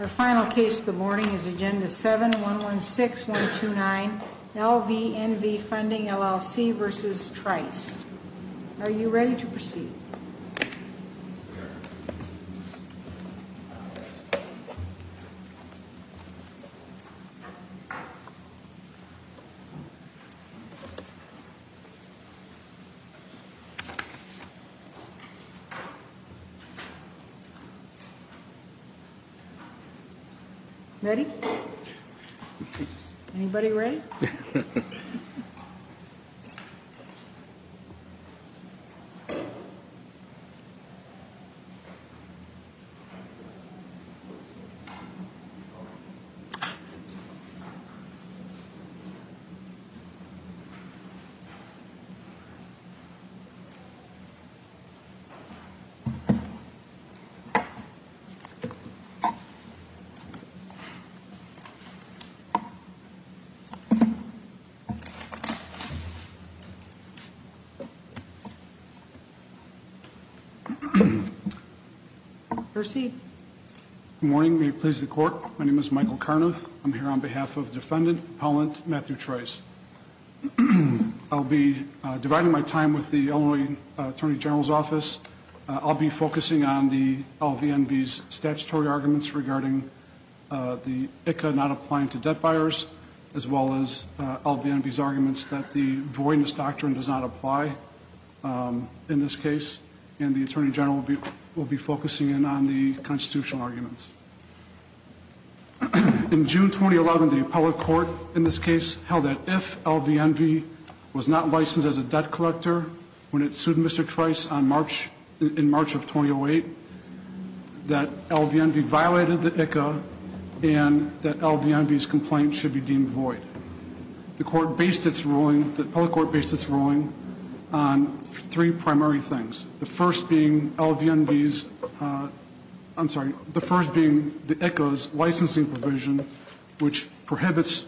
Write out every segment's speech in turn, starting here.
Our final case of the morning is Agenda 7-116-129 LVNV Funding, LLC v. Trice. Are you ready to proceed? Ready? Anybody ready? Proceed. Good morning. May it please the Court, my name is Michael Carnuth. I'm here on behalf of Defendant Appellant Matthew Trice. I'll be dividing my time with the Illinois Attorney General's Office. I'll be focusing on the LVNV's statutory arguments regarding the ICA not applying to debt buyers, as well as LVNV's arguments that the voidness doctrine does not apply in this case. And the Attorney General will be focusing in on the constitutional arguments. In June 2011, the appellate court in this case held that if LVNV was not licensed as a debt collector when it sued Mr. Trice in March of 2008, that LVNV violated the ICA and that LVNV's complaint should be deemed void. The court based its ruling, the appellate court based its ruling on three primary things. The first being LVNV's, I'm sorry, the first being the ICA's licensing provision, which prohibits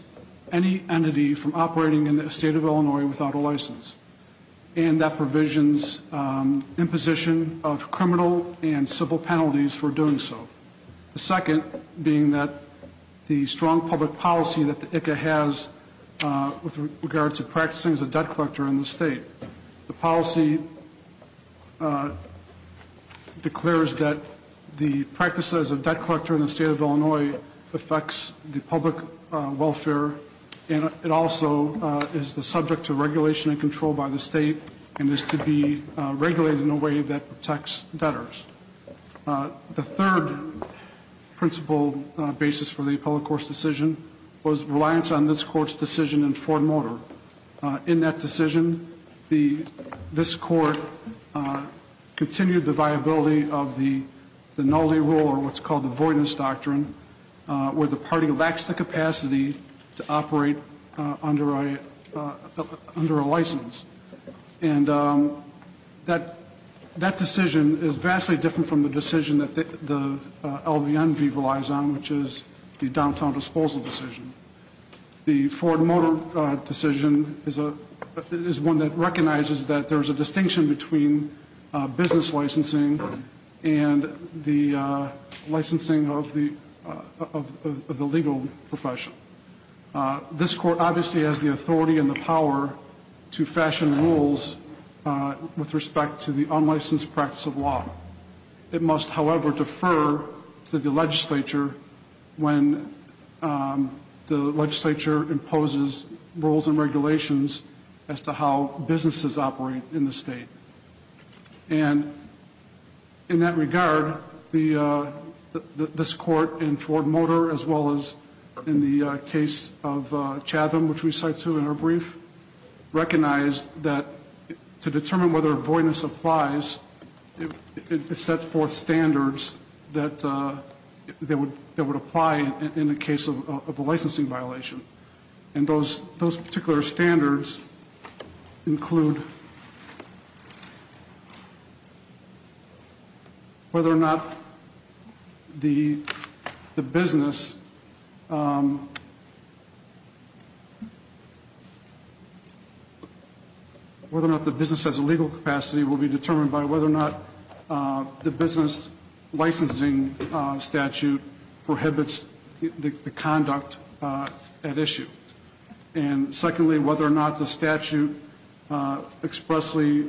any entity from operating in the state of Illinois without a license. And that provisions imposition of criminal and civil penalties for doing so. The second being that the strong public policy that the ICA has with regards to practicing as a debt collector in the state. The policy declares that the practice as a debt collector in the state of Illinois affects the public welfare and it also is the subject to regulation and control by the state and is to be regulated in a way that protects debtors. The third principle basis for the appellate court's decision was reliance on this court's decision in Ford Motor. In that decision, this court continued the viability of the nullity rule, or what's called the voidness doctrine, where the party lacks the capacity to operate under a license. And that decision is vastly different from the decision that the LVNV relies on, which is the downtown disposal decision. The Ford Motor decision is one that recognizes that there's a distinction between business licensing and the licensing of the legal profession. This court obviously has the authority and the power to fashion rules with respect to the unlicensed practice of law. It must, however, defer to the legislature when the legislature imposes rules and regulations as to how businesses operate in the state. And in that regard, this court in Ford Motor, as well as in the case of Chatham, which we cited in our brief, recognized that to determine whether voidness applies, it sets forth standards that would apply in the case of a licensing violation. And those particular standards include whether or not the business has a legal capacity will be determined by whether or not the business licensing statute prohibits the conduct at issue. And secondly, whether or not the statute expressly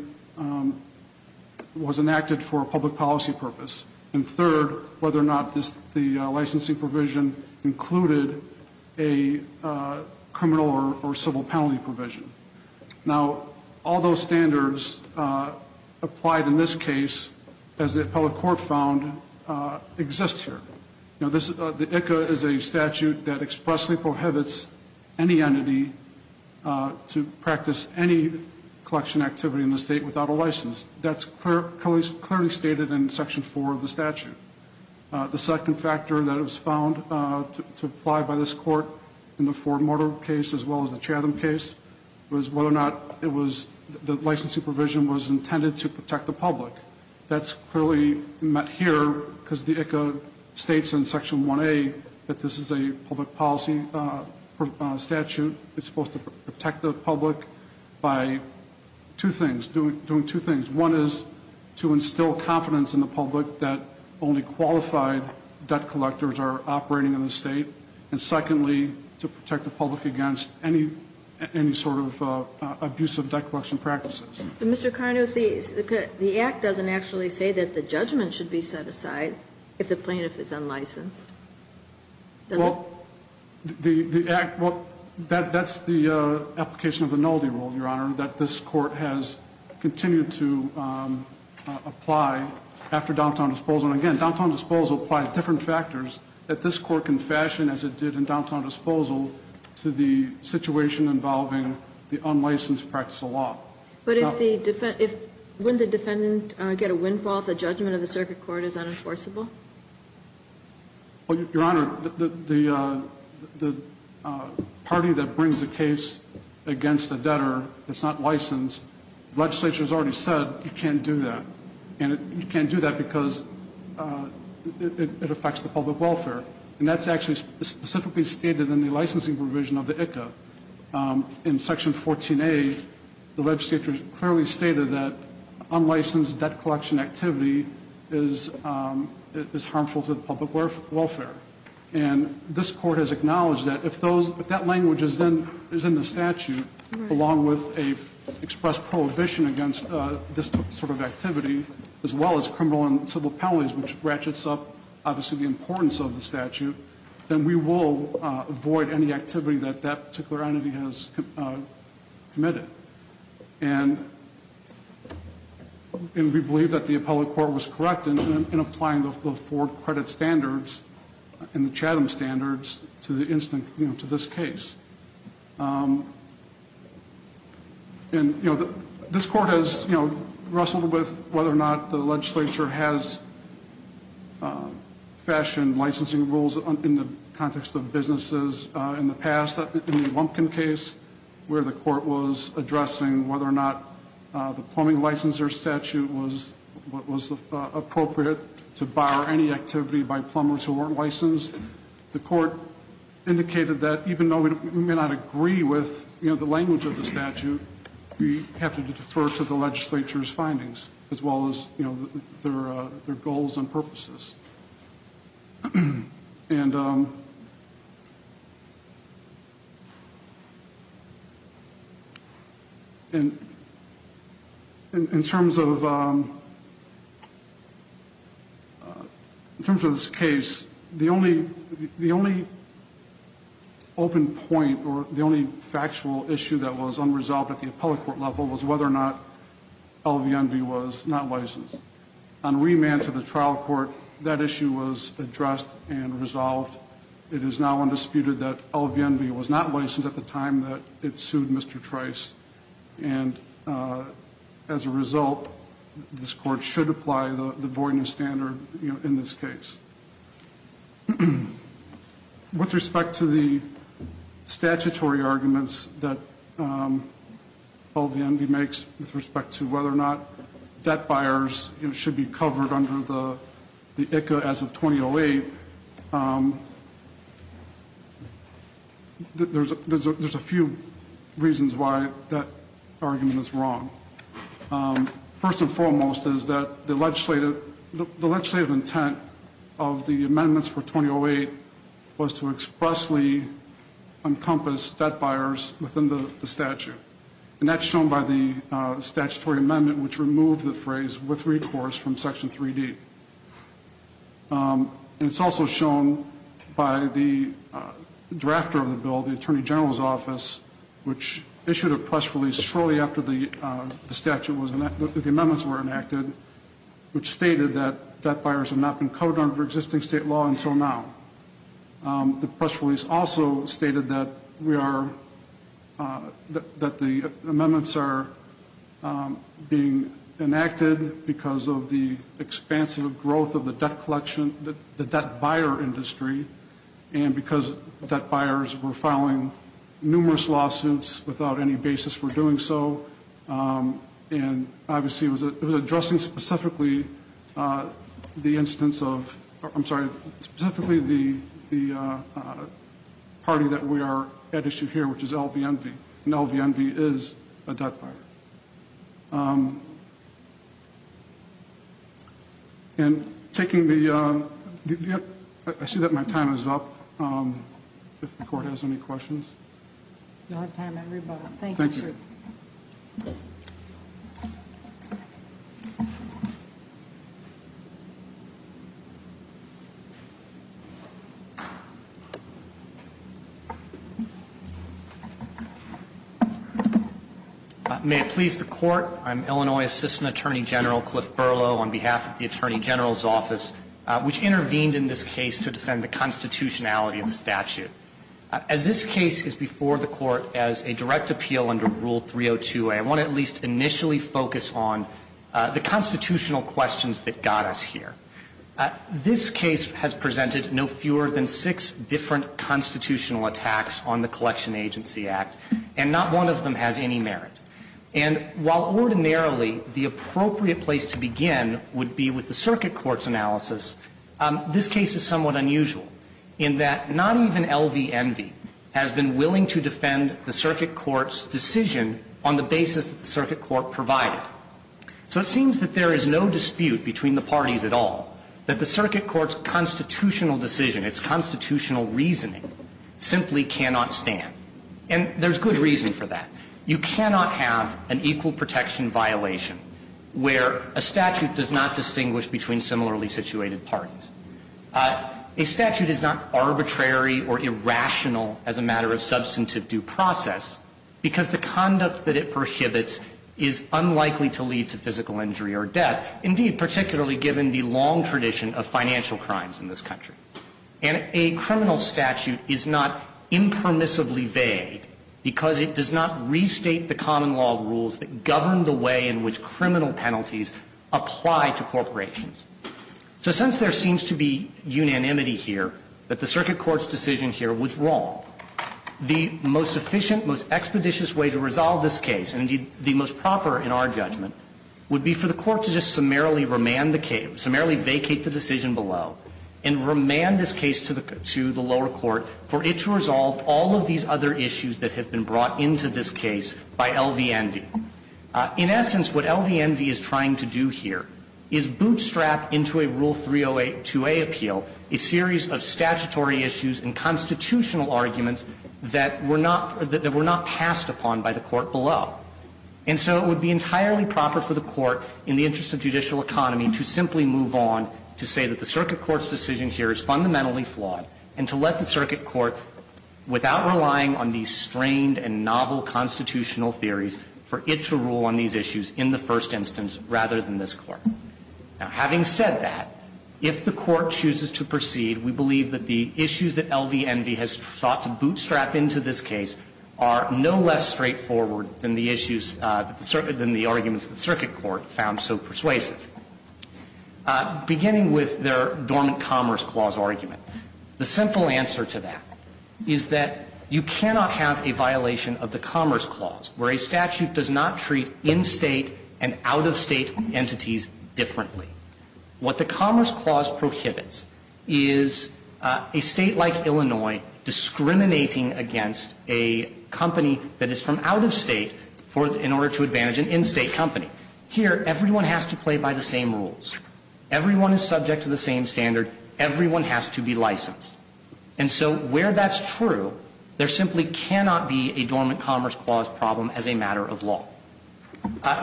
was enacted for a public policy purpose. And third, whether or not the licensing provision included a criminal or civil penalty provision. Now, all those standards applied in this case, as the appellate court found, exist here. The ICCA is a statute that expressly prohibits any entity to practice any collection activity in the state without a license. That's clearly stated in Section 4 of the statute. The second factor that was found to apply by this court in the Ford Motor case, as well as the Chatham case, was whether or not the licensing provision was intended to protect the public. That's clearly met here because the ICCA states in Section 1A that this is a public policy statute. It's supposed to protect the public by doing two things. One is to instill confidence in the public that only qualified debt collectors are operating in the state. And secondly, to protect the public against any sort of abusive debt collection practices. But Mr. Carno, the act doesn't actually say that the judgment should be set aside if the plaintiff is unlicensed. Well, that's the application of the nullity rule, Your Honor, that this court has continued to apply after downtown disposal. And again, downtown disposal applies different factors that this court can fashion, as it did in downtown disposal, to the situation involving the unlicensed practice of law. But if the defendant – wouldn't the defendant get a windfall if the judgment of the circuit court is unenforceable? Well, Your Honor, the party that brings a case against a debtor that's not licensed, the legislature has already said you can't do that. And you can't do that because it affects the public welfare. And that's actually specifically stated in the licensing provision of the ICCA. In Section 14A, the legislature clearly stated that unlicensed debt collection activity is harmful to the public welfare. And this court has acknowledged that if that language is in the statute, along with an expressed prohibition against this sort of activity, as well as criminal and civil penalties, which ratchets up, obviously, the importance of the statute, then we will avoid any activity that that particular entity has committed. And we believe that the appellate court was correct in applying the four credit standards and the Chatham standards to this case. And, you know, this court has, you know, wrestled with whether or not the legislature has fashioned licensing rules in the context of businesses in the past. In the Lumpkin case, where the court was addressing whether or not the plumbing licensure statute was appropriate to bar any activity by plumbers who weren't licensed, the court indicated that even though we may not agree with, you know, the language of the statute, we have to defer to the legislature's findings, as well as, you know, their goals and purposes. And in terms of this case, the only open point or the only factual issue that was unresolved at the appellate court level was whether or not LVNB was not licensed. On remand to the trial court, that issue was addressed and resolved. It is now undisputed that LVNB was not licensed at the time that it sued Mr. Trice. And as a result, this court should apply the Voidness Standard, you know, in this case. With respect to the statutory arguments that LVNB makes with respect to whether or not debt buyers, you know, that argument is wrong. First and foremost is that the legislative intent of the amendments for 2008 was to expressly encompass debt buyers within the statute, and that's shown by the statutory amendment, which removed the phrase with recourse from Section 3D. And it's also shown by the drafter of the bill, the Attorney General's Office, which issued a press release shortly after the amendments were enacted, which stated that debt buyers had not been covered under existing state law until now. The press release also stated that the amendments are being enacted because of the expansive growth of the debt collection, the debt buyer industry, and because debt buyers were filing numerous lawsuits without any basis for doing so. And obviously it was addressing specifically the instance of, I'm sorry, specifically the party that we are at issue here, which is LVNB. And LVNB is a debt buyer. And taking the, I see that my time is up. If the court has any questions. You'll have time everybody. Thank you, sir. Thank you. May it please the Court. I'm Illinois Assistant Attorney General Cliff Berlow on behalf of the Attorney General's Office, which intervened in this case to defend the constitutionality of the statute. As this case is before the Court as a direct appeal under Rule 302a, I want to at least initially focus on the constitutional questions that got us here. This case has presented no fewer than six different constitutional attacks on the Collection Agency Act, and not one of them has any merit. And while ordinarily the appropriate place to begin would be with the circuit court's analysis, this case is somewhat unusual in that not even LVNB has been willing to defend the circuit court's decision on the basis that the circuit court provided. So it seems that there is no dispute between the parties at all that the circuit court's constitutional decision, its constitutional reasoning simply cannot stand. And there's good reason for that. You cannot have an equal protection violation where a statute does not distinguish between similarly situated parties. A statute is not arbitrary or irrational as a matter of substantive due process because the conduct that it prohibits is unlikely to lead to physical injury or death, indeed, particularly given the long tradition of financial crimes in this country. And a criminal statute is not impermissibly vague because it does not restate the common law rules that govern the way in which criminal penalties apply to corporations. So since there seems to be unanimity here that the circuit court's decision here was wrong, the most efficient, most expeditious way to resolve this case, and indeed the most proper in our judgment, would be for the Court to just summarily remand the case, summarily vacate the decision below and remand this case to the lower court for it to resolve all of these other issues that have been brought into this case by LVNB. In essence, what LVNB is trying to do here is bootstrap into a Rule 308 2A appeal a series of statutory issues and constitutional arguments that were not passed upon by the Court below. And so it would be entirely proper for the Court, in the interest of judicial economy, to simply move on to say that the circuit court's decision here is fundamentally flawed, and to let the circuit court, without relying on these strained and novel constitutional theories, for it to rule on these issues in the first instance rather than this Court. Now, having said that, if the Court chooses to proceed, we believe that the issues that LVNB has sought to bootstrap into this case are no less straightforward than the issues, than the arguments that the circuit court found so persuasive. Beginning with their dormant Commerce Clause argument, the simple answer to that is that you cannot have a violation of the Commerce Clause where a statute does not treat in-State and out-of-State entities differently. What the Commerce Clause prohibits is a State like Illinois discriminating against a company that is from out-of-State in order to advantage an in-State company. Here, everyone has to play by the same rules. Everyone is subject to the same standard. Everyone has to be licensed. And so where that's true, there simply cannot be a dormant Commerce Clause problem as a matter of law.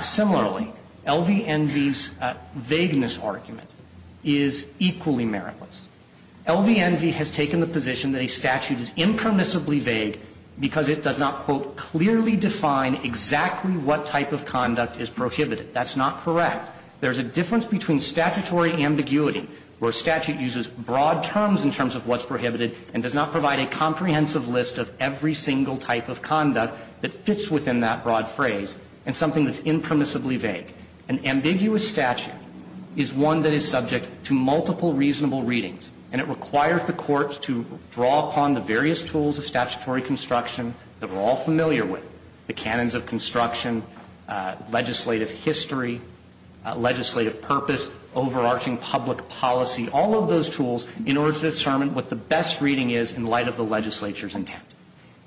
Similarly, LVNB's vagueness argument is equally meritless. LVNB has taken the position that a statute is impermissibly vague because it does not, quote, clearly define exactly what type of conduct is prohibited. That's not correct. There's a difference between statutory ambiguity where a statute uses broad terms in terms of what's prohibited and does not provide a comprehensive list of every single type of conduct that fits within that broad phrase and something that's impermissibly vague. An ambiguous statute is one that is subject to multiple reasonable readings, and it requires the courts to draw upon the various tools of statutory construction that we're all familiar with, the canons of construction, legislative history, legislative purpose, overarching public policy, all of those tools in order to determine what the best reading is in light of the legislature's intent.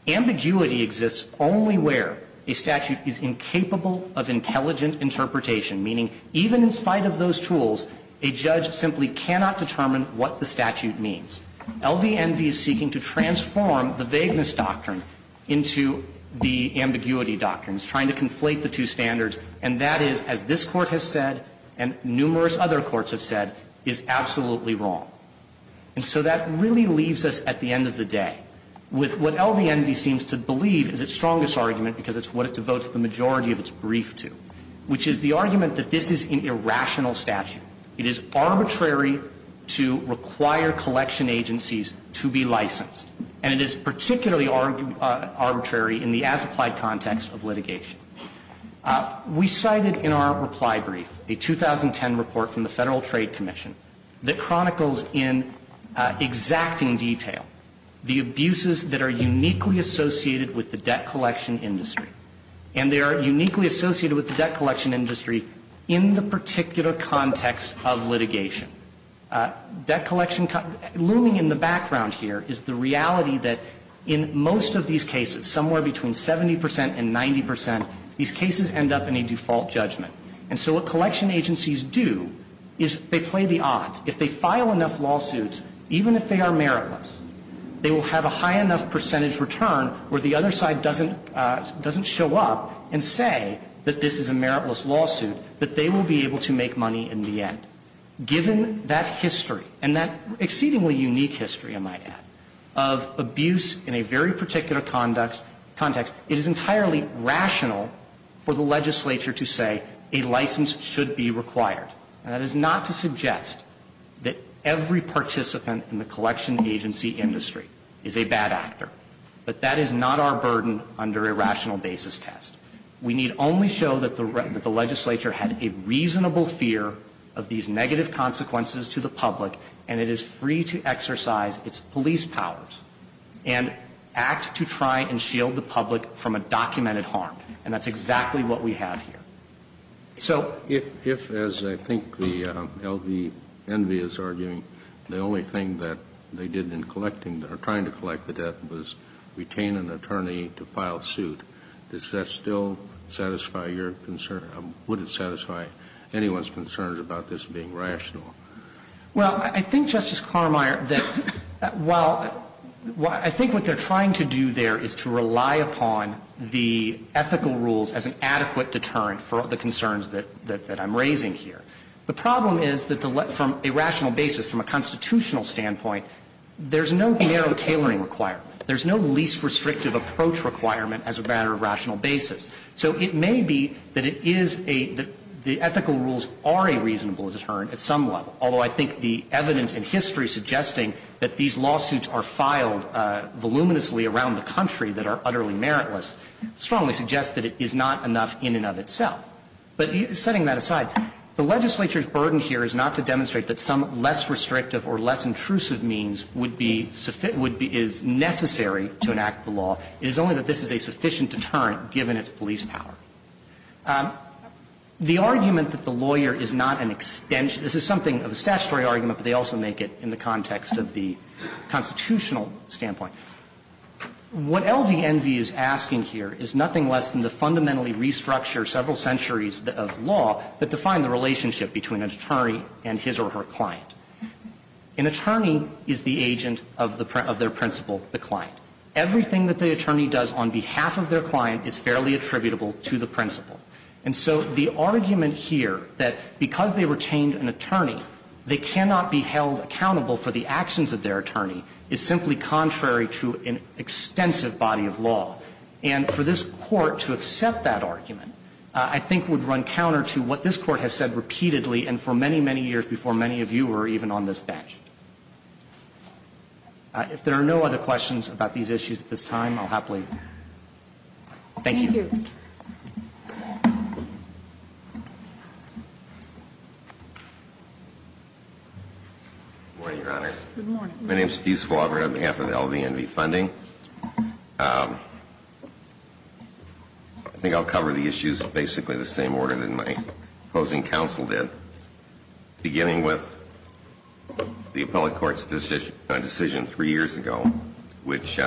Ambiguity exists only where a statute is incapable of intelligent interpretation, meaning even in spite of those tools, a judge simply cannot determine what the statute means. LVNB is seeking to transform the vagueness doctrine into the ambiguity doctrine. It's trying to conflate the two standards, and that is, as this Court has said and numerous other courts have said, is absolutely wrong. And so that really leaves us at the end of the day with what LVNB seems to believe is its strongest argument, because it's what it devotes the majority of its brief to, which is the argument that this is an irrational statute. It is arbitrary to require collection agencies to be licensed, and it is particularly arbitrary in the as-applied context of litigation. We cited in our reply brief a 2010 report from the Federal Trade Commission that chronicles in exacting detail the abuses that are uniquely associated with the debt collection industry. And they are uniquely associated with the debt collection industry in the particular context of litigation. Debt collection, looming in the background here, is the reality that in most of these cases, somewhere between 70 percent and 90 percent, these cases end up in a default judgment. And so what collection agencies do is they play the odds. If they file enough lawsuits, even if they are meritless, they will have a high enough percentage return where the other side doesn't show up and say that this is a meritless lawsuit, that they will be able to make money in the end. Given that history, and that exceedingly unique history, I might add, of abuse in a very license should be required. And that is not to suggest that every participant in the collection agency industry is a bad actor. But that is not our burden under a rational basis test. We need only show that the legislature had a reasonable fear of these negative consequences to the public, and it is free to exercise its police powers and act to try and shield the public from a documented harm. And that's exactly what we have here. So the only thing that they did in collecting, or trying to collect the debt, was retain an attorney to file suit. Does that still satisfy your concern, or would it satisfy anyone's concern about this being rational? Well, I think, Justice Carmier, that while I think what they are trying to do there is to rely upon the ethical rules as an adequate deterrent for the concerns that I'm raising here. The problem is that from a rational basis, from a constitutional standpoint, there's no narrow tailoring requirement. There's no least restrictive approach requirement as a matter of rational basis. So it may be that it is a – that the ethical rules are a reasonable deterrent at some level, although I think the evidence in history suggesting that these lawsuits are filed voluminously around the country that are utterly meritless strongly suggests that it is not enough in and of itself. But setting that aside, the legislature's burden here is not to demonstrate that some less restrictive or less intrusive means would be – is necessary to enact the law. It is only that this is a sufficient deterrent given its police power. The argument that the lawyer is not an extension – this is something of a statutory argument, but they also make it in the context of the constitutional standpoint. What LVNV is asking here is nothing less than to fundamentally restructure several centuries of law that define the relationship between an attorney and his or her client. An attorney is the agent of their principal, the client. Everything that the attorney does on behalf of their client is fairly attributable to the principal. And so the argument here that because they retained an attorney, they cannot be held accountable for the actions of their attorney is simply contrary to an extensive body of law. And for this Court to accept that argument, I think, would run counter to what this Court has said repeatedly and for many, many years before many of you were even on this bench. If there are no other questions about these issues at this time, I'll happily thank you. Good morning, Your Honors. Good morning. My name is Steve Swaver, on behalf of LVNV Funding. I think I'll cover the issues in basically the same order that my opposing counsel did, beginning with the appellate court's decision three years ago, which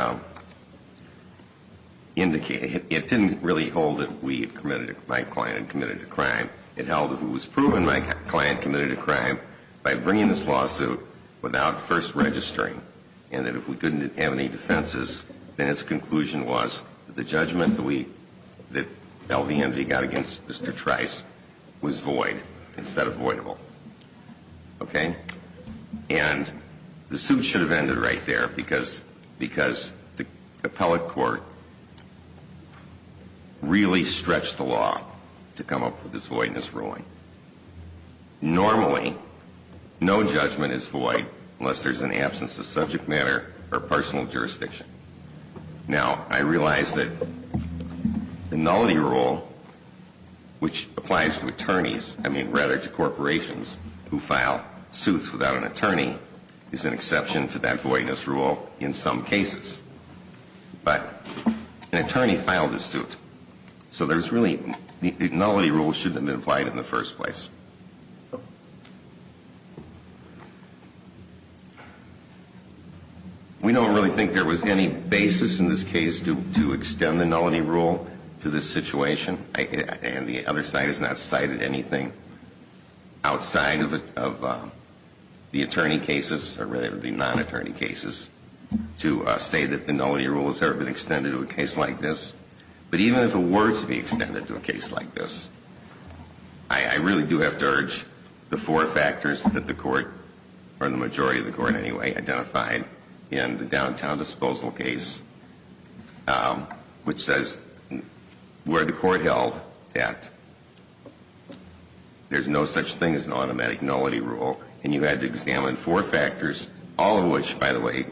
indicated held accountable for the actions of his or her client. It really held that we had committed, my client had committed a crime. It held that it was proven my client committed a crime by bringing this lawsuit without first registering, and that if we couldn't have any defenses, then its conclusion was that the judgment that we, that LVNV got against Mr. Trice was void instead of voidable. Okay? And the suit should have ended right there because, because the appellate court really stretched the law to come up with this voidness ruling. Normally, no judgment is void unless there's an absence of subject matter or personal jurisdiction. Now, I realize that the nullity rule, which applies to attorneys, I mean, rather to corporations who file suits without an attorney, is an exception to that voidness rule in some cases. But an attorney filed a suit, so there's really, the nullity rule shouldn't have been applied in the first place. We don't really think there was any basis in this case to extend the nullity rule to this situation, and the other side has not cited anything outside of the attorney cases to say that the nullity rule has never been extended to a case like this. But even if it were to be extended to a case like this, I really do have to urge the four factors that the court, or the majority of the court anyway, identified in the downtown disposal case, which says where the court held that there's no such thing as an automatic nullity rule, and you had to examine four factors, all of which, by the way,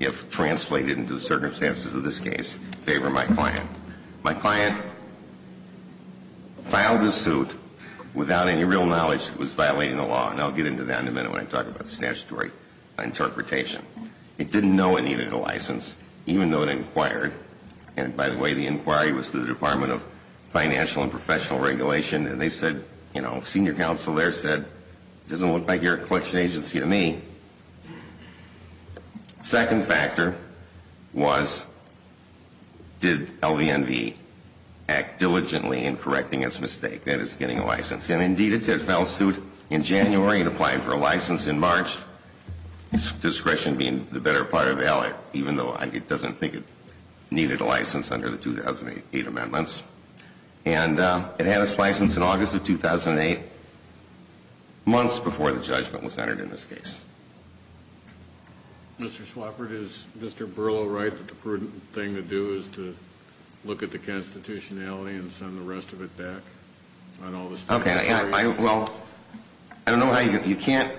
if translated into the circumstances of this case, favor my client. My client filed the suit without any real knowledge that it was violating the law, and I'll get into that in a minute when I talk about statutory interpretation. It didn't know it needed a license, even though it inquired. And by the way, the inquiry was to the Department of Financial and Professional Regulation, and they said, you know, senior counsel there said, it doesn't look like you're a collection agency to me. Second factor was did LVNV act diligently in correcting its mistake, that is, getting a license. And indeed, it did file a suit in January and applied for a license in March, discretion being the better part of the ally, even though it doesn't think it needed a license under the 2008 amendments. And it had its license in August of 2008, months before the judgment was entered in this case. Mr. Swafford, is Mr. Burlow right that the prudent thing to do is to look at the constitutionality and send the rest of it back on all the statutory? Okay, well, I don't know how you can't,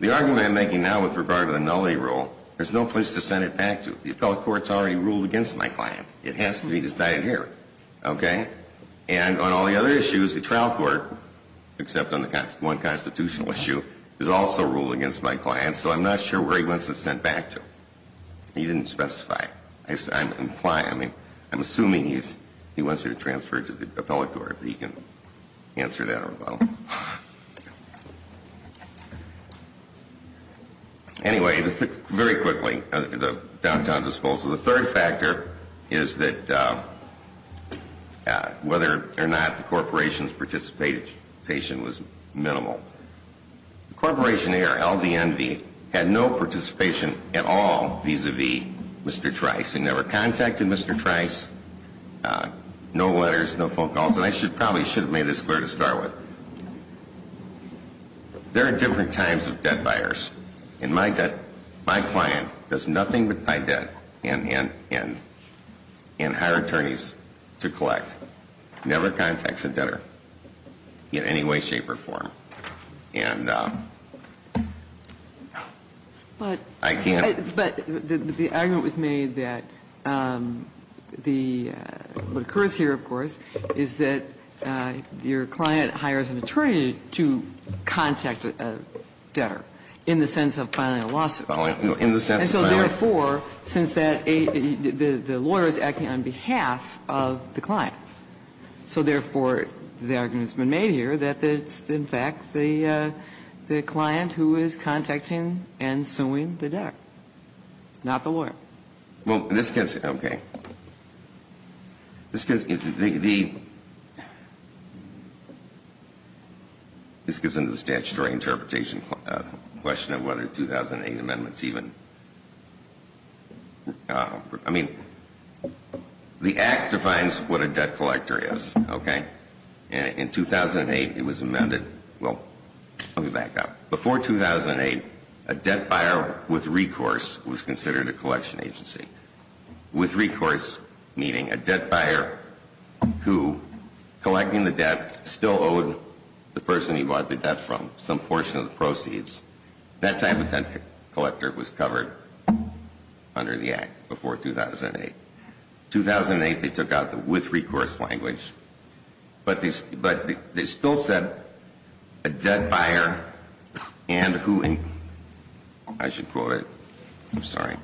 the argument I'm making now with regard to the nullity rule, there's no place to send it back to. The appellate court's already ruled against my client. It has to be decided here, okay? And on all the other issues, the trial court, except on the one constitutional issue, has also ruled against my client, so I'm not sure where he wants it sent back to. He didn't specify. I'm implying, I mean, I'm assuming he wants it transferred to the appellate court. He can answer that or not. Anyway, very quickly, the downtown disposal. The third factor is that whether or not the corporation's participation was minimal. Corporation A or LDNV had no participation at all vis-a-vis Mr. Trice. They never contacted Mr. Trice. No letters, no phone calls. And I probably should have made this clear to start with. There are different types of debt buyers. In my debt, my client does nothing but buy debt and hire attorneys to collect. Never contacts a debtor in any way, shape, or form. And I can't. But the argument was made that the what occurs here, of course, is that your client hires an attorney to contact a debtor in the sense of filing a lawsuit. And so therefore, since that the lawyer is acting on behalf of the client, so therefore the argument has been made here that it's, in fact, the client who is contacting and suing the debtor, not the lawyer. Well, this gets, okay, this gets into the statutory interpretation question of whether 2008 amendments even, I mean, the Act defines what a debt collector is, okay? In 2008, it was amended, well, let me back up. Before 2008, a debt buyer with recourse was considered a collection agency. With recourse, meaning a debt buyer who, collecting the debt, still owed the person he bought the debt from some portion of the proceeds. That type of debt collector was covered under the Act before 2008. In 2008, they took out the with recourse language, but they still said a debt buyer and who, I should quote it, I'm sorry,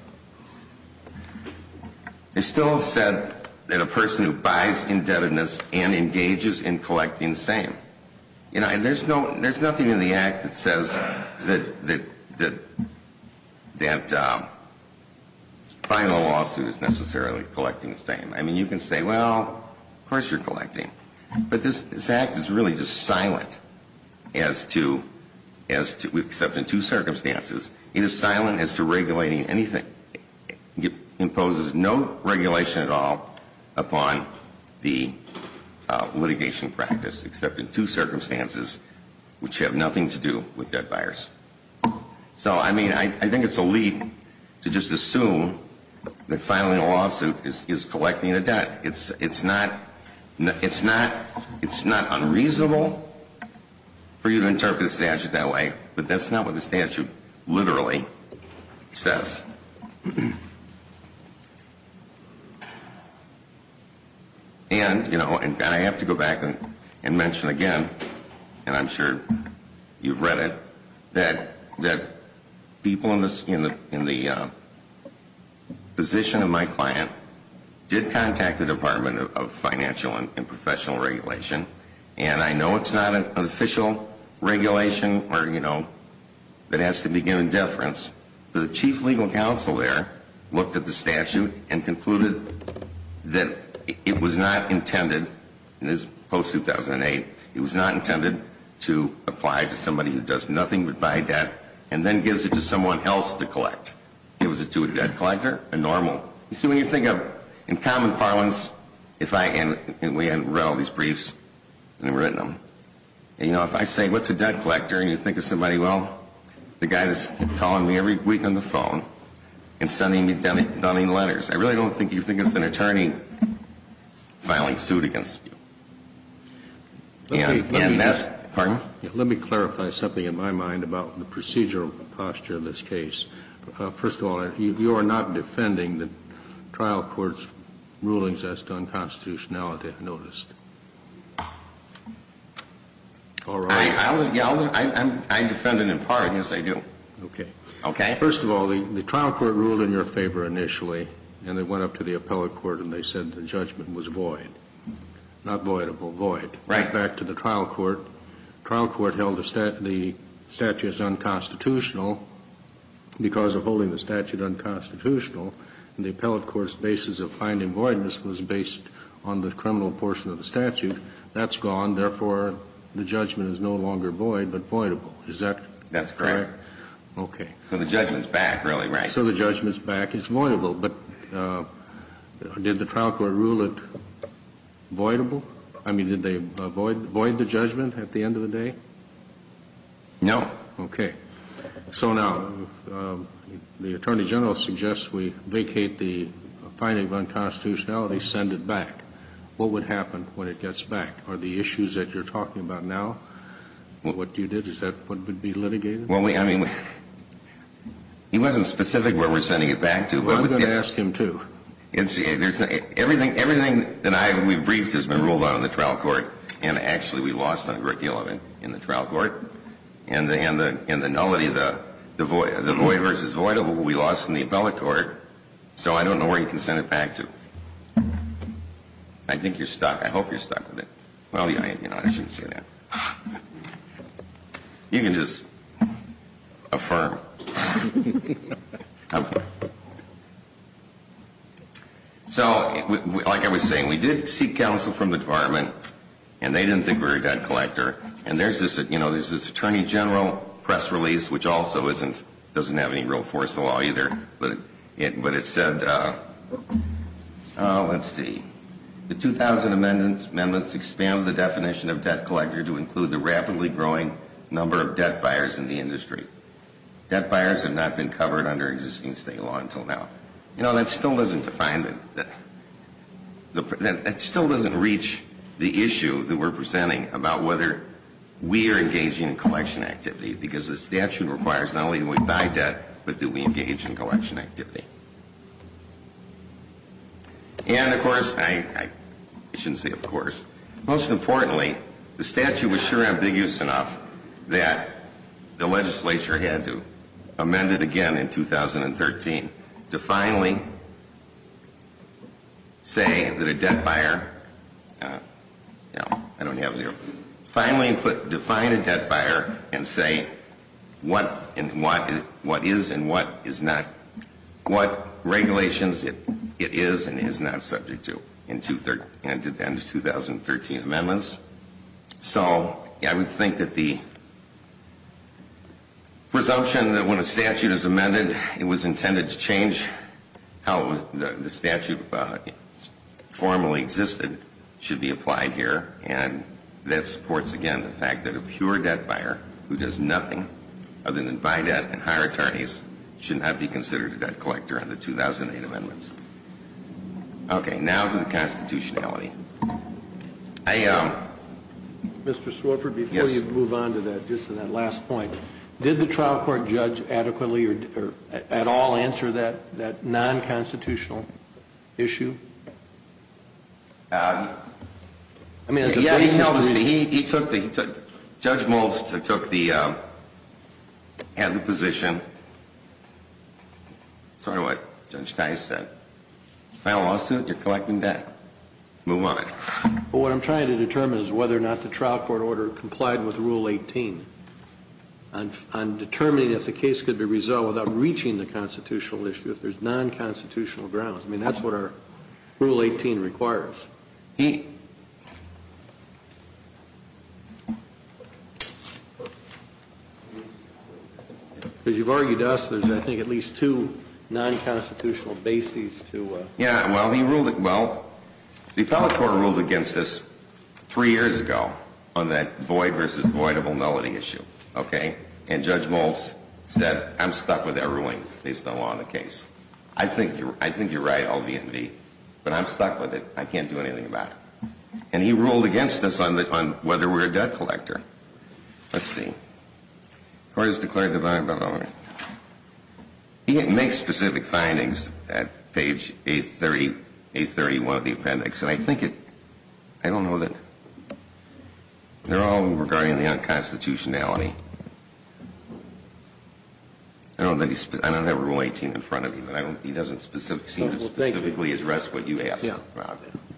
they still said that a person who buys indebtedness and engages in collecting the same. You know, and there's no, there's nothing in the Act that says that, that, that final lawsuit is necessarily collecting the same. I mean, you can say, well, of course you're collecting. But this, this Act is really just silent as to, as to, except in two circumstances, it is silent as to regulating anything. It imposes no regulation at all upon the litigation practice, except in two circumstances, which have nothing to do with debt buyers. So, I mean, I think it's a lead to just assume that filing a lawsuit is collecting a debt. It's, it's not, it's not, it's not unreasonable for you to interpret the statute that way, but that's not what the statute literally says. And, you know, and I have to go back and mention again, and I'm sure you've read it, that, that people in the, in the, in the position of my client did contact the Department of Financial and Professional Regulation. And I know it's not an official regulation or, you know, that has to be given deference. But the Chief Legal Counsel there looked at the statute and concluded that it was not intended, and this is post-2008, it was not intended to apply to somebody who does nothing but buy debt and then gives it to someone else to collect. It was to a debt collector, a normal. You see, when you think of, in common parlance, if I, and we had read all these briefs and written them, and, you know, if I say, what's a debt collector? And you think of somebody, well, the guy that's calling me every week on the phone and sending me dummy, dummy letters. I really don't think you think it's an attorney filing suit against you. And that's, pardon? Let me clarify something in my mind about the procedural posture in this case. First of all, you are not defending the trial court's rulings as to unconstitutionality, I noticed. All right. I defend it in part, yes, I do. Okay. Okay. First of all, the trial court ruled in your favor initially, and they went up to the appellate court and they said the judgment was void. Not voidable, void. Right. Back to the trial court. The trial court held the statute as unconstitutional because of holding the statute unconstitutional. The appellate court's basis of finding voidness was based on the criminal portion of the statute. That's gone. Therefore, the judgment is no longer void, but voidable. Is that correct? That's correct. Okay. So the judgment's back, really, right? So the judgment's back. It's voidable. But did the trial court rule it voidable? I mean, did they void the judgment at the end of the day? No. Okay. So now, the Attorney General suggests we vacate the finding of unconstitutionality, send it back. What would happen when it gets back? Are the issues that you're talking about now, what you did, is that what would be litigated? Well, I mean, he wasn't specific where we're sending it back to. I'm going to ask him, too. Everything that we've briefed has been ruled out in the trial court. And, actually, we lost under the element in the trial court. And the nullity, the void versus voidable, we lost in the appellate court. So I don't know where you can send it back to. I think you're stuck. I hope you're stuck with it. Well, you know, I shouldn't say that. You can just affirm. So, like I was saying, we did seek counsel from the department. And they didn't think we were a debt collector. And there's this, you know, there's this Attorney General press release, which also doesn't have any real force in the law, either. But it said, oh, let's see. The 2000 amendments expand the definition of debt collector to include the rapidly growing number of debt buyers in the industry. Debt buyers have not been covered under existing state law until now. You know, that still doesn't define the, that still doesn't reach the issue that we're presenting about whether we are engaging in collection activity because the statute requires not only do we buy debt, but do we engage in collection activity. And, of course, I shouldn't say of course. Most importantly, the statute was sure ambiguous enough that the legislature had to amend it again in 2013 to finally say that a debt buyer, you know, I don't have it here. Finally define a debt buyer and say what is and what is not, what regulations it is and is not subject to in 2013 amendments. So I would think that the presumption that when a statute is amended it was intended to change how the statute formally existed should be applied here. And that supports, again, the fact that a pure debt buyer who does nothing other than buy debt and hire attorneys should not be considered a debt But I don't have any further comments on the existing amendments. Okay. Now to the constitutionality. I am. Mr. Swarbrick, before you move on to that, just to that last point, did the trial court judge adequately or at all answer that non-constitutional issue? He took the, Judge Moulds took the, had the position, sort of what Judge Tice said, file a lawsuit, you're collecting debt, move on. What I'm trying to determine is whether or not the trial court order complied with Rule 18 on determining if the case could be resolved without reaching the non-constitutional grounds. I mean, that's what our Rule 18 requires. He. As you've argued to us, there's, I think, at least two non-constitutional bases to Yeah, well, he ruled, well, the appellate court ruled against us three years ago on that void versus voidable melody issue. Okay. And Judge Moulds said, I'm stuck with Erwin. There's no law in the case. I think you're, I think you're right, LVMV. But I'm stuck with it. I can't do anything about it. And he ruled against us on the, on whether we're a debt collector. Let's see. Court has declared the, he makes specific findings at page 830, 831 of the appendix. And I think it, I don't know that, they're all regarding the unconstitutionality. I don't think he's, I don't have Rule 18 in front of me, but I don't, he doesn't seem to specifically address what you asked. Yeah.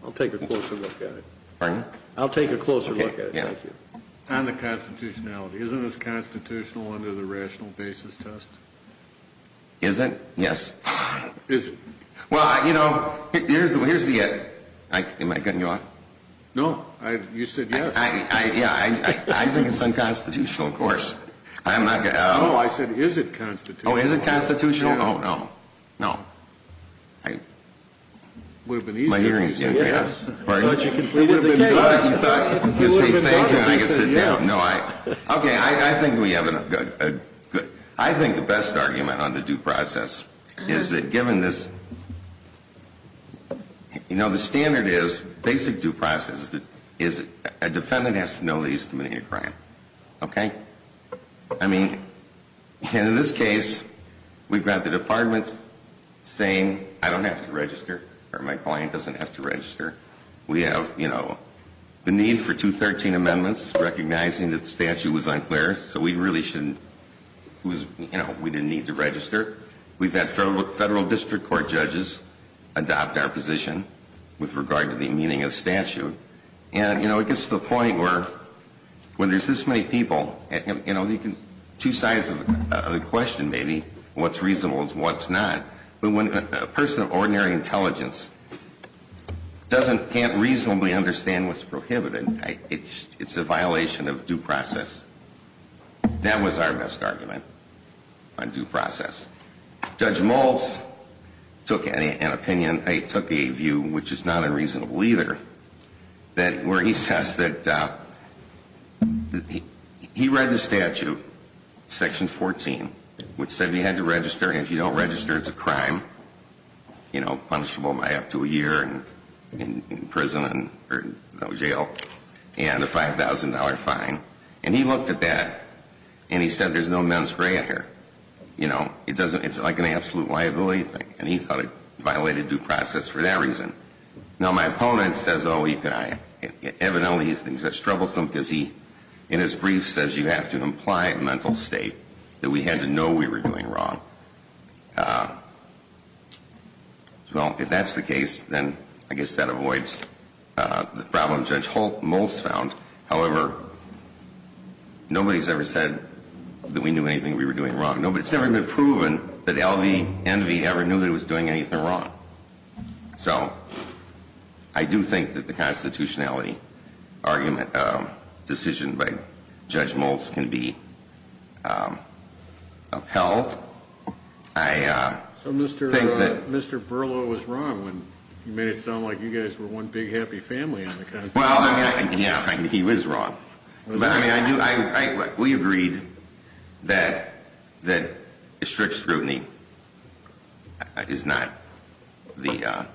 I'll take a closer look at it. Pardon? I'll take a closer look at it. Yeah. On the constitutionality. Isn't this constitutional under the rational basis test? Is it? Yes. Is it? Well, you know, here's the, here's the, am I cutting you off? No. I, you said yes. I, I, yeah. I think it's unconstitutional, of course. I'm not going to. No, I said, is it constitutional? Oh, is it constitutional? Oh, no. No. I. Would have been easier. My hearing is going to be up. Yes. Pardon? You thought you could say thank you and I could sit down. Yes. No, I, okay. I, I think we have a good, a good, I think the best argument on the due process is that given this, you know, the standard is, basic due process is that a defendant has to know that he's committing a crime. Okay? I mean, in this case, we've got the department saying, I don't have to register, or my client doesn't have to register. We have, you know, the need for 213 amendments, recognizing that the statute was unclear, so we really shouldn't, it was, you know, we didn't need to register. We've had federal, federal district court judges adopt our position with regard to the meaning of the statute. And, you know, it gets to the point where when there's this many people, you know, two sides of the question maybe, what's reasonable and what's not, but when a person of ordinary intelligence doesn't, can't reasonably understand what's prohibited, it's a violation of due process. That was our best argument on due process. Judge Maltz took an opinion, he took a view, which is not unreasonable either, that where he says that, he read the statute, section 14, which said you had to register, and if you don't register, it's a crime, you know, punishable by up to a year in prison, or jail, and a $5,000 fine. And he looked at that, and he said there's no mens rea here. You know, it doesn't, it's like an absolute liability thing. And he thought it violated due process for that reason. Now, my opponent says, oh, you can, evidently, he thinks that's troublesome because he, in his brief, says you have to imply a mental state, that we had to know we were doing wrong. Well, if that's the case, then I guess that avoids the problem Judge Maltz found. However, nobody's ever said that we knew anything we were doing wrong. Nobody's ever been proven that L.V. Envy ever knew that it was doing anything wrong. So, I do think that the constitutionality argument, decision by Judge Maltz, can be upheld. I think that... So, Mr. Burlow was wrong when he made it sound like you guys were one big happy family on the constitution. Well, I mean, yeah, I mean, he was wrong. But, I mean, I do, we agreed that strict scrutiny is not the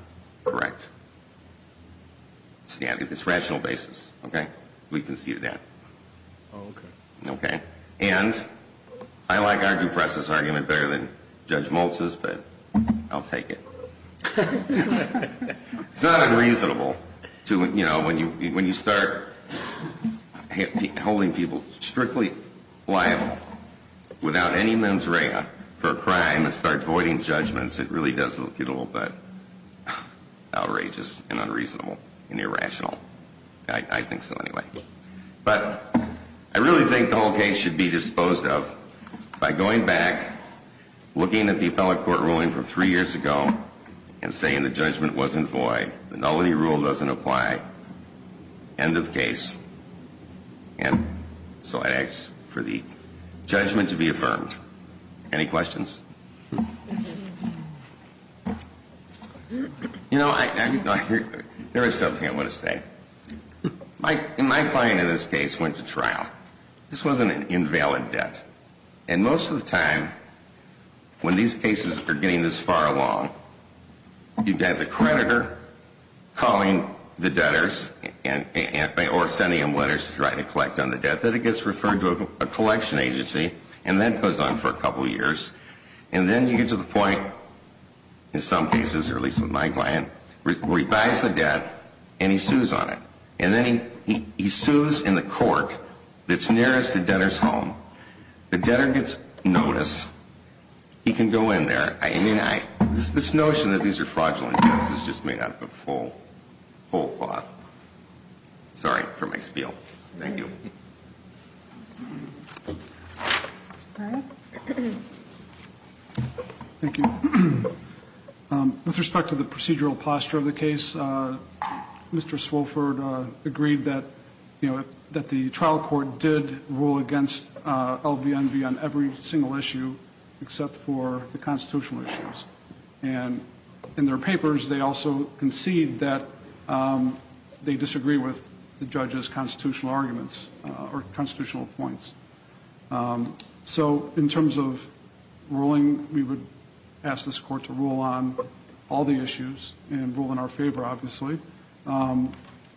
correct... It's rational basis, okay? We conceded that. Oh, okay. Okay. And I like our due process argument better than Judge Maltz's, but I'll take it. It's not unreasonable to, you know, when you start holding people strictly liable without any mens rea for a crime and start voiding judgments, it really does look a little bit outrageous and unreasonable and irrational. I think so, anyway. But, I really think the whole case should be disposed of by going back, looking at the case, and saying the judgment wasn't void, the nullity rule doesn't apply, end of case, and so I ask for the judgment to be affirmed. Any questions? You know, there is something I want to say. My client in this case went to trial. This wasn't an invalid debt. And most of the time, when these cases are getting this far along, you've got the creditor calling the debtors or sending them letters to try to collect on the debt, then it gets referred to a collection agency, and that goes on for a couple years, and then you get to the point, in some cases, or at least with my client, where he buys the debt and he sues on it. And then he sues in the court that's nearest the debtor's home. The debtor gets notice. He can go in there. I mean, this notion that these are fraudulent debts is just made out of a full cloth. Sorry for my spiel. Thank you. Thank you. With respect to the procedural posture of the case, Mr. Swofford agreed that, you know, that the trial court did rule against LVNV on every single issue except for the constitutional issues. And in their papers, they also concede that they disagree with the judge's constitutional arguments or constitutional points. So, in terms of ruling, we would ask this court to rule on all the issues and rule in our favor, obviously,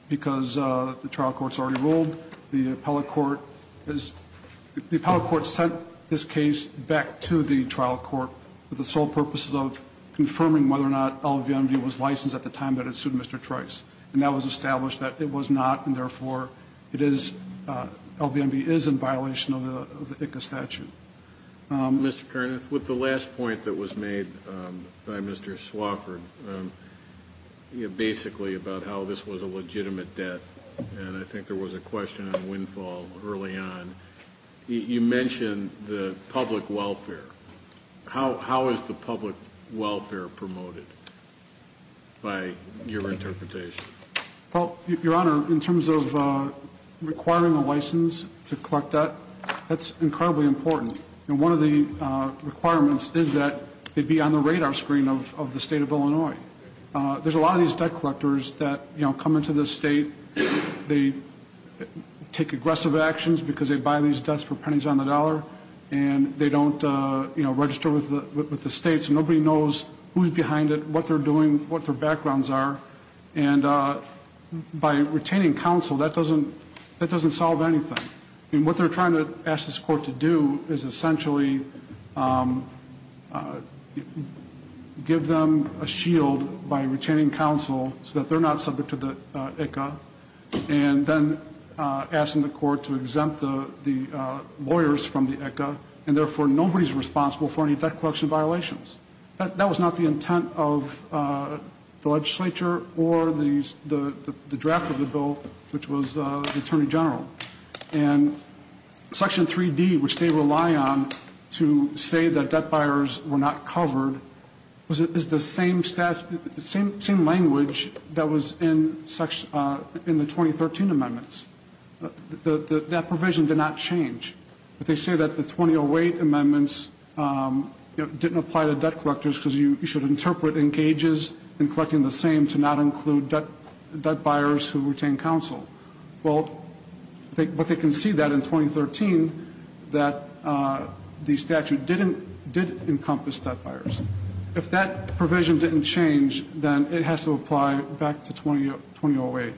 because the trial court's already ruled. The appellate court is – the appellate court sent this case back to the trial court with the sole purpose of confirming whether or not LVNV was licensed at the time that it sued Mr. Trice. And that was established that it was not, and therefore, it is – LVNV is in violation of the ICCA statute. Mr. Kernith, with the last point that was made by Mr. Swofford, you know, basically about how this was a legitimate debt, and I think there was a question on windfall early on, you mentioned the public welfare. How is the public welfare promoted by your interpretation? Well, Your Honor, in terms of requiring a license to collect debt, that's incredibly important. And one of the requirements is that it be on the radar screen of the state of Illinois. There's a lot of these debt collectors that, you know, come into this state, they take aggressive actions because they buy these debts for pennies on the dollar, and they don't register with the state, so nobody knows who's behind it, what they're doing, what their backgrounds are. And by retaining counsel, that doesn't solve anything. I mean, what they're trying to ask this Court to do is essentially give them a shield by retaining counsel so that they're not subject to the ICCA, and then asking the Court to exempt the lawyers from the ICCA, and therefore, nobody's responsible for any debt collection violations. That was not the intent of the legislature or the draft of the bill, which was the Attorney General. And Section 3D, which they rely on to say that debt buyers were not covered, is the same language that was in the 2013 amendments. That provision did not change. But they say that the 2008 amendments didn't apply to debt collectors because you should interpret in gauges and collecting the same to not include debt buyers who retain counsel. Well, but they concede that in 2013 that the statute did encompass debt buyers. If that provision didn't change, then it has to apply back to 2008.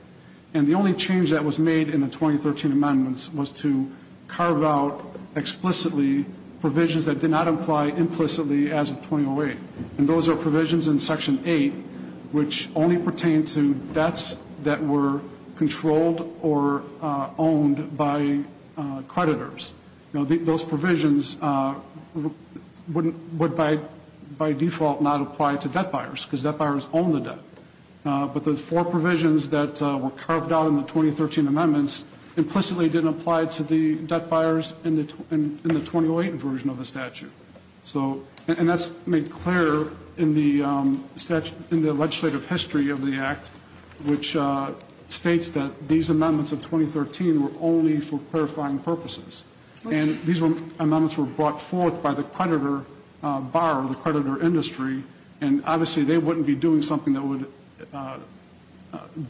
And the only change that was made in the 2013 amendments was to carve out explicitly provisions that did not apply implicitly as of 2008. And those are provisions in Section 8 which only pertain to debts that were controlled or owned by creditors. Those provisions would by default not apply to debt buyers because debt buyers own the debt. But the four provisions that were carved out in the 2013 amendments implicitly didn't apply to the debt buyers in the 2008 version of the statute. And that's made clear in the legislative history of the Act, which states that these amendments of 2013 were only for clarifying purposes. And these amendments were brought forth by the creditor bar or the creditor industry. And obviously they wouldn't be doing something that would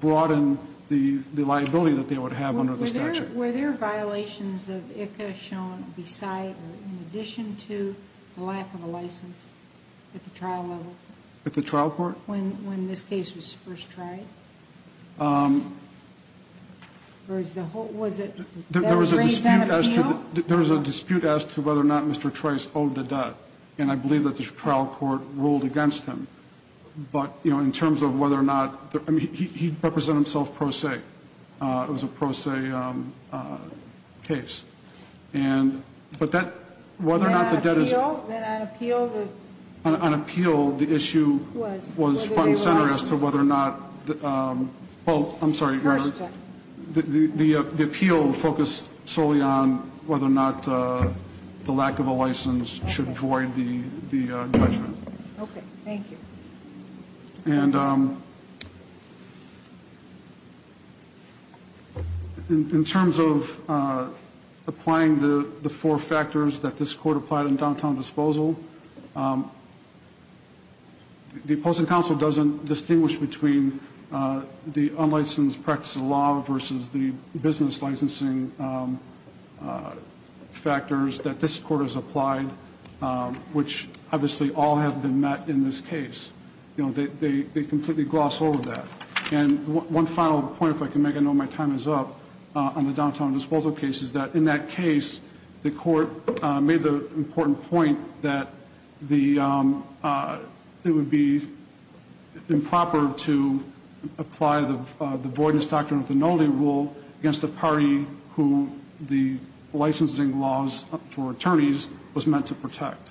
broaden the liability that they would have under the statute. Were there violations of ICA shown beside or in addition to the lack of a license at the trial level? At the trial court? When this case was first tried? Or was it that raised that appeal? There was a dispute as to whether or not Mr. Trice owed the debt. And I believe that the trial court ruled against him. But, you know, in terms of whether or not, I mean, he'd represent himself pro se. It was a pro se case. And, but that, whether or not the debt is... Then on appeal? Then on appeal the... On appeal the issue was front and center as to whether or not, well, I'm sorry. First one. The appeal focused solely on whether or not the lack of a license should void the judgment. Okay. Thank you. And in terms of applying the four factors that this court applied in downtown disposal, the opposing counsel doesn't distinguish between the unlicensed practice of law versus the business licensing factors that this court has applied, which obviously all have been met in this case. You know, they completely gloss over that. And one final point, if I can make, I know my time is up, on the downtown disposal case is that in that case, the court made the important point that the, it would be improper to apply the voidness doctrine of the Noli rule against a party who the licensing laws for attorneys was meant to protect.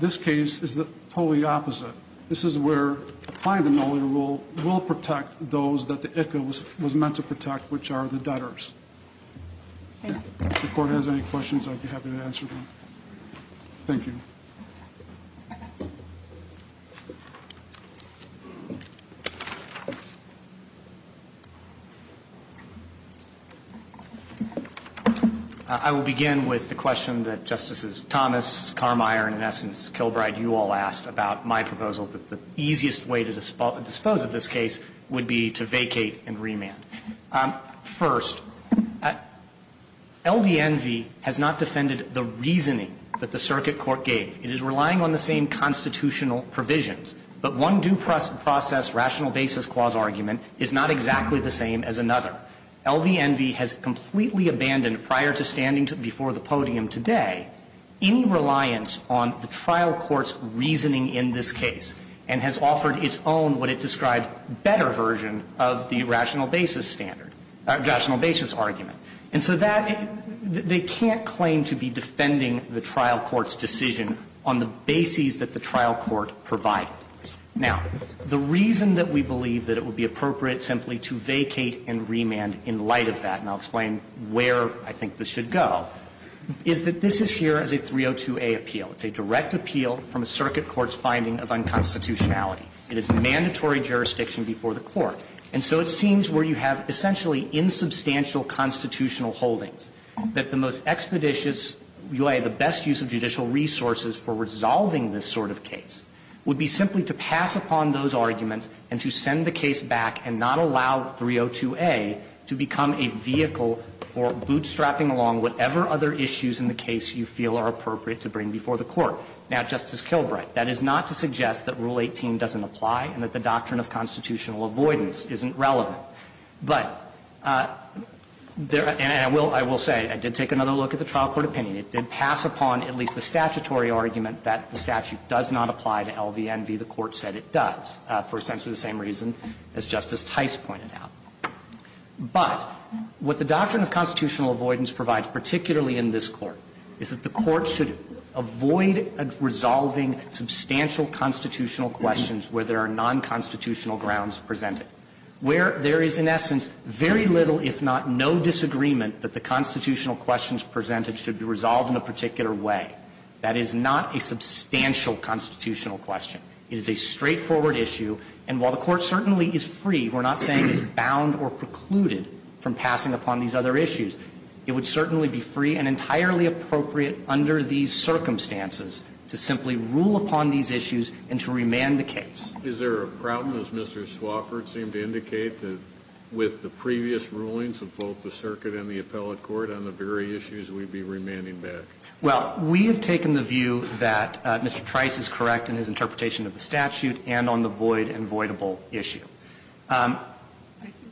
This case is the totally opposite. This is where applying the Noli rule will protect those that the ICA was meant to protect, which are the debtors. Okay. If the court has any questions, I'd be happy to answer them. Thank you. I will begin with the question that Justices Thomas, Carmire, and in essence Kilbride, you all asked about my proposal, that the easiest way to dispose of this case would be to vacate and remand. First, LVNV has not defended the reasoning that the circuit court gave. It is relying on the same constitutional provisions. But one due process rational basis clause argument is not exactly the same as another. LVNV has completely abandoned, prior to standing before the podium today, any reliance on the trial court's reasoning in this case, and has offered its own, what it described, better version of the rational basis standard, rational basis argument. And so that, they can't claim to be defending the trial court's decision on the bases that the trial court provided. Now, the reason that we believe that it would be appropriate simply to vacate and remand in light of that, and I'll explain where I think this should go, is that this is here as a 302A appeal. It's a direct appeal from a circuit court's finding of unconstitutionality. It is mandatory jurisdiction before the court. And so it seems where you have essentially insubstantial constitutional holdings, that the most expeditious way, the best use of judicial resources for resolving this sort of case, would be simply to pass upon those arguments and to send the case back and not allow 302A to become a vehicle for bootstrapping along whatever other issues in the case you feel are appropriate to bring before the court. Now, Justice Kilbright, that is not to suggest that Rule 18 doesn't apply and that the doctrine of constitutional avoidance isn't relevant. But, and I will say, I did take another look at the trial court opinion. It did pass upon at least the statutory argument that the statute does not apply to LVNV. The Court said it does, for essentially the same reason as Justice Tice pointed out. But what the doctrine of constitutional avoidance provides, particularly in this Court, is that the Court should avoid resolving substantial constitutional questions where there are nonconstitutional grounds presented, where there is in essence very little, if not no, disagreement that the constitutional questions presented should be resolved in a particular way. That is not a substantial constitutional question. It is a straightforward issue. And while the Court certainly is free, we're not saying it's bound or precluded from passing upon these other issues, it would certainly be free and entirely appropriate under these circumstances to simply rule upon these issues and to remand the case. Kennedy. Is there a problem, as Mr. Swofford seemed to indicate, that with the previous rulings of both the circuit and the appellate court on the very issues, we'd be remanding back? I'm not going to go into the specifics of the statute, but I'm going to go into the specifics of the application of the statute and on the void and voidable issue.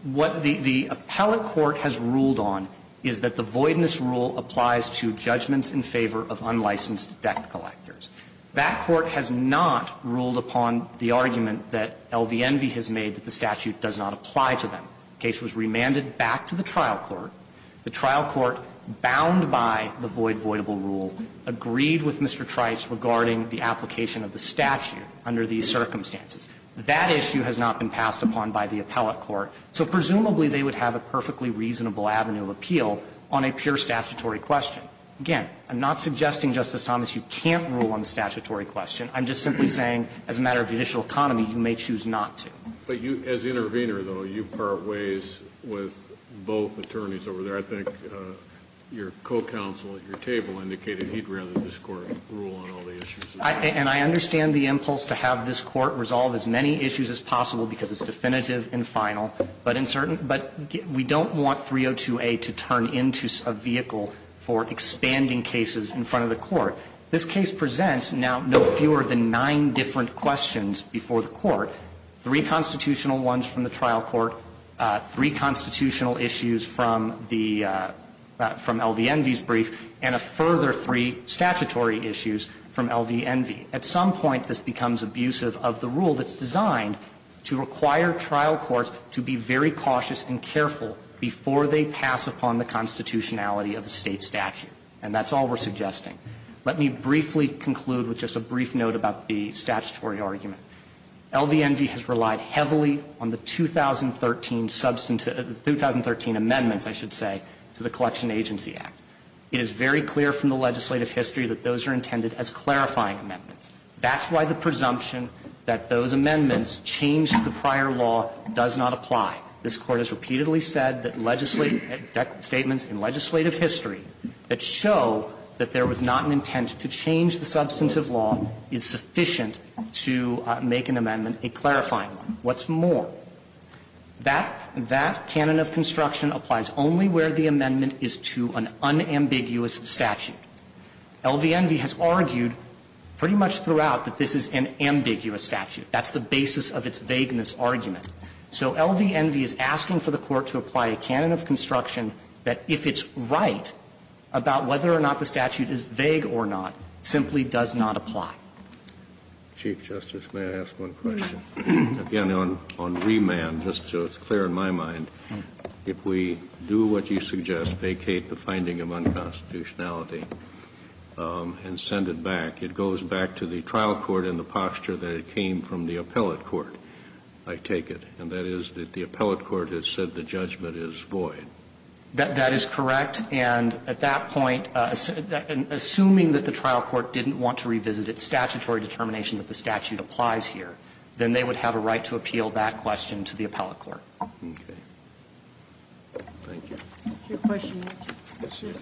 What the appellate court has ruled on is that the voidness rule applies to judgments in favor of unlicensed debt collectors. That court has not ruled upon the argument that L.V. Envy has made that the statute does not apply to them. The case was remanded back to the trial court. The trial court, bound by the void-voidable rule, agreed with Mr. Trice regarding the application of the statute under these circumstances. That issue has not been passed upon by the appellate court, so presumably they would have a perfectly reasonable avenue of appeal on a pure statutory question. Again, I'm not suggesting, Justice Thomas, you can't rule on the statutory question. I'm just simply saying, as a matter of judicial economy, you may choose not to. But you, as intervener, though, you part ways with both attorneys over there. I think your co-counsel at your table indicated he'd rather this Court rule on all the issues. And I understand the impulse to have this Court resolve as many issues as possible because it's definitive and final, but in certain we don't want 302A to turn into a vehicle for expanding cases in front of the Court. So I'm not suggesting that this Court rule on all the issues should be passed upon by the appellate court. Three constitutional ones from the trial court, three constitutional issues from the LVNV's brief, and a further three statutory issues from LVNV. At some point, this becomes abusive of the rule that's designed to require trial courts to be very cautious and careful before they pass upon the constitutionality of a State statute. And that's all we're suggesting. Let me briefly conclude with just a brief note about the statutory argument. LVNV has relied heavily on the 2013 amendments, I should say, to the Collection Agency Act. It is very clear from the legislative history that those are intended as clarifying amendments. That's why the presumption that those amendments change the prior law does not apply. This Court has repeatedly said that legislative statements in legislative history that show that there was not an intent to change the substantive law is sufficient to make an amendment a clarifying one. What's more, that canon of construction applies only where the amendment is to an unambiguous statute. LVNV has argued pretty much throughout that this is an ambiguous statute. That's the basis of its vagueness argument. So LVNV is asking for the Court to apply a canon of construction that, if it's right, about whether or not the statute is vague or not, simply does not apply. Chief Justice, may I ask one question? Again, on remand, just so it's clear in my mind, if we do what you suggest, vacate the finding of unconstitutionality and send it back, it goes back to the trial court in the posture that it came from the appellate court, I take it. And that is that the appellate court has said the judgment is void. That is correct. And at that point, assuming that the trial court didn't want to revisit its statutory determination that the statute applies here, then they would have a right to appeal that question to the appellate court. Okay. Thank you. Is your question answered? Yes, it is.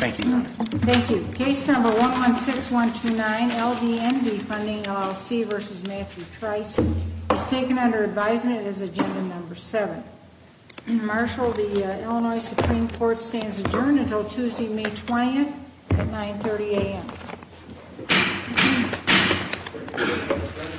Thank you, Your Honor. Thank you. Case number 116129, LVNV, funding LLC versus Matthew Trice, is taken under advisement as agenda number seven. Marshal, the Illinois Supreme Court stands adjourned until Tuesday, May 20th at 9.30 AM.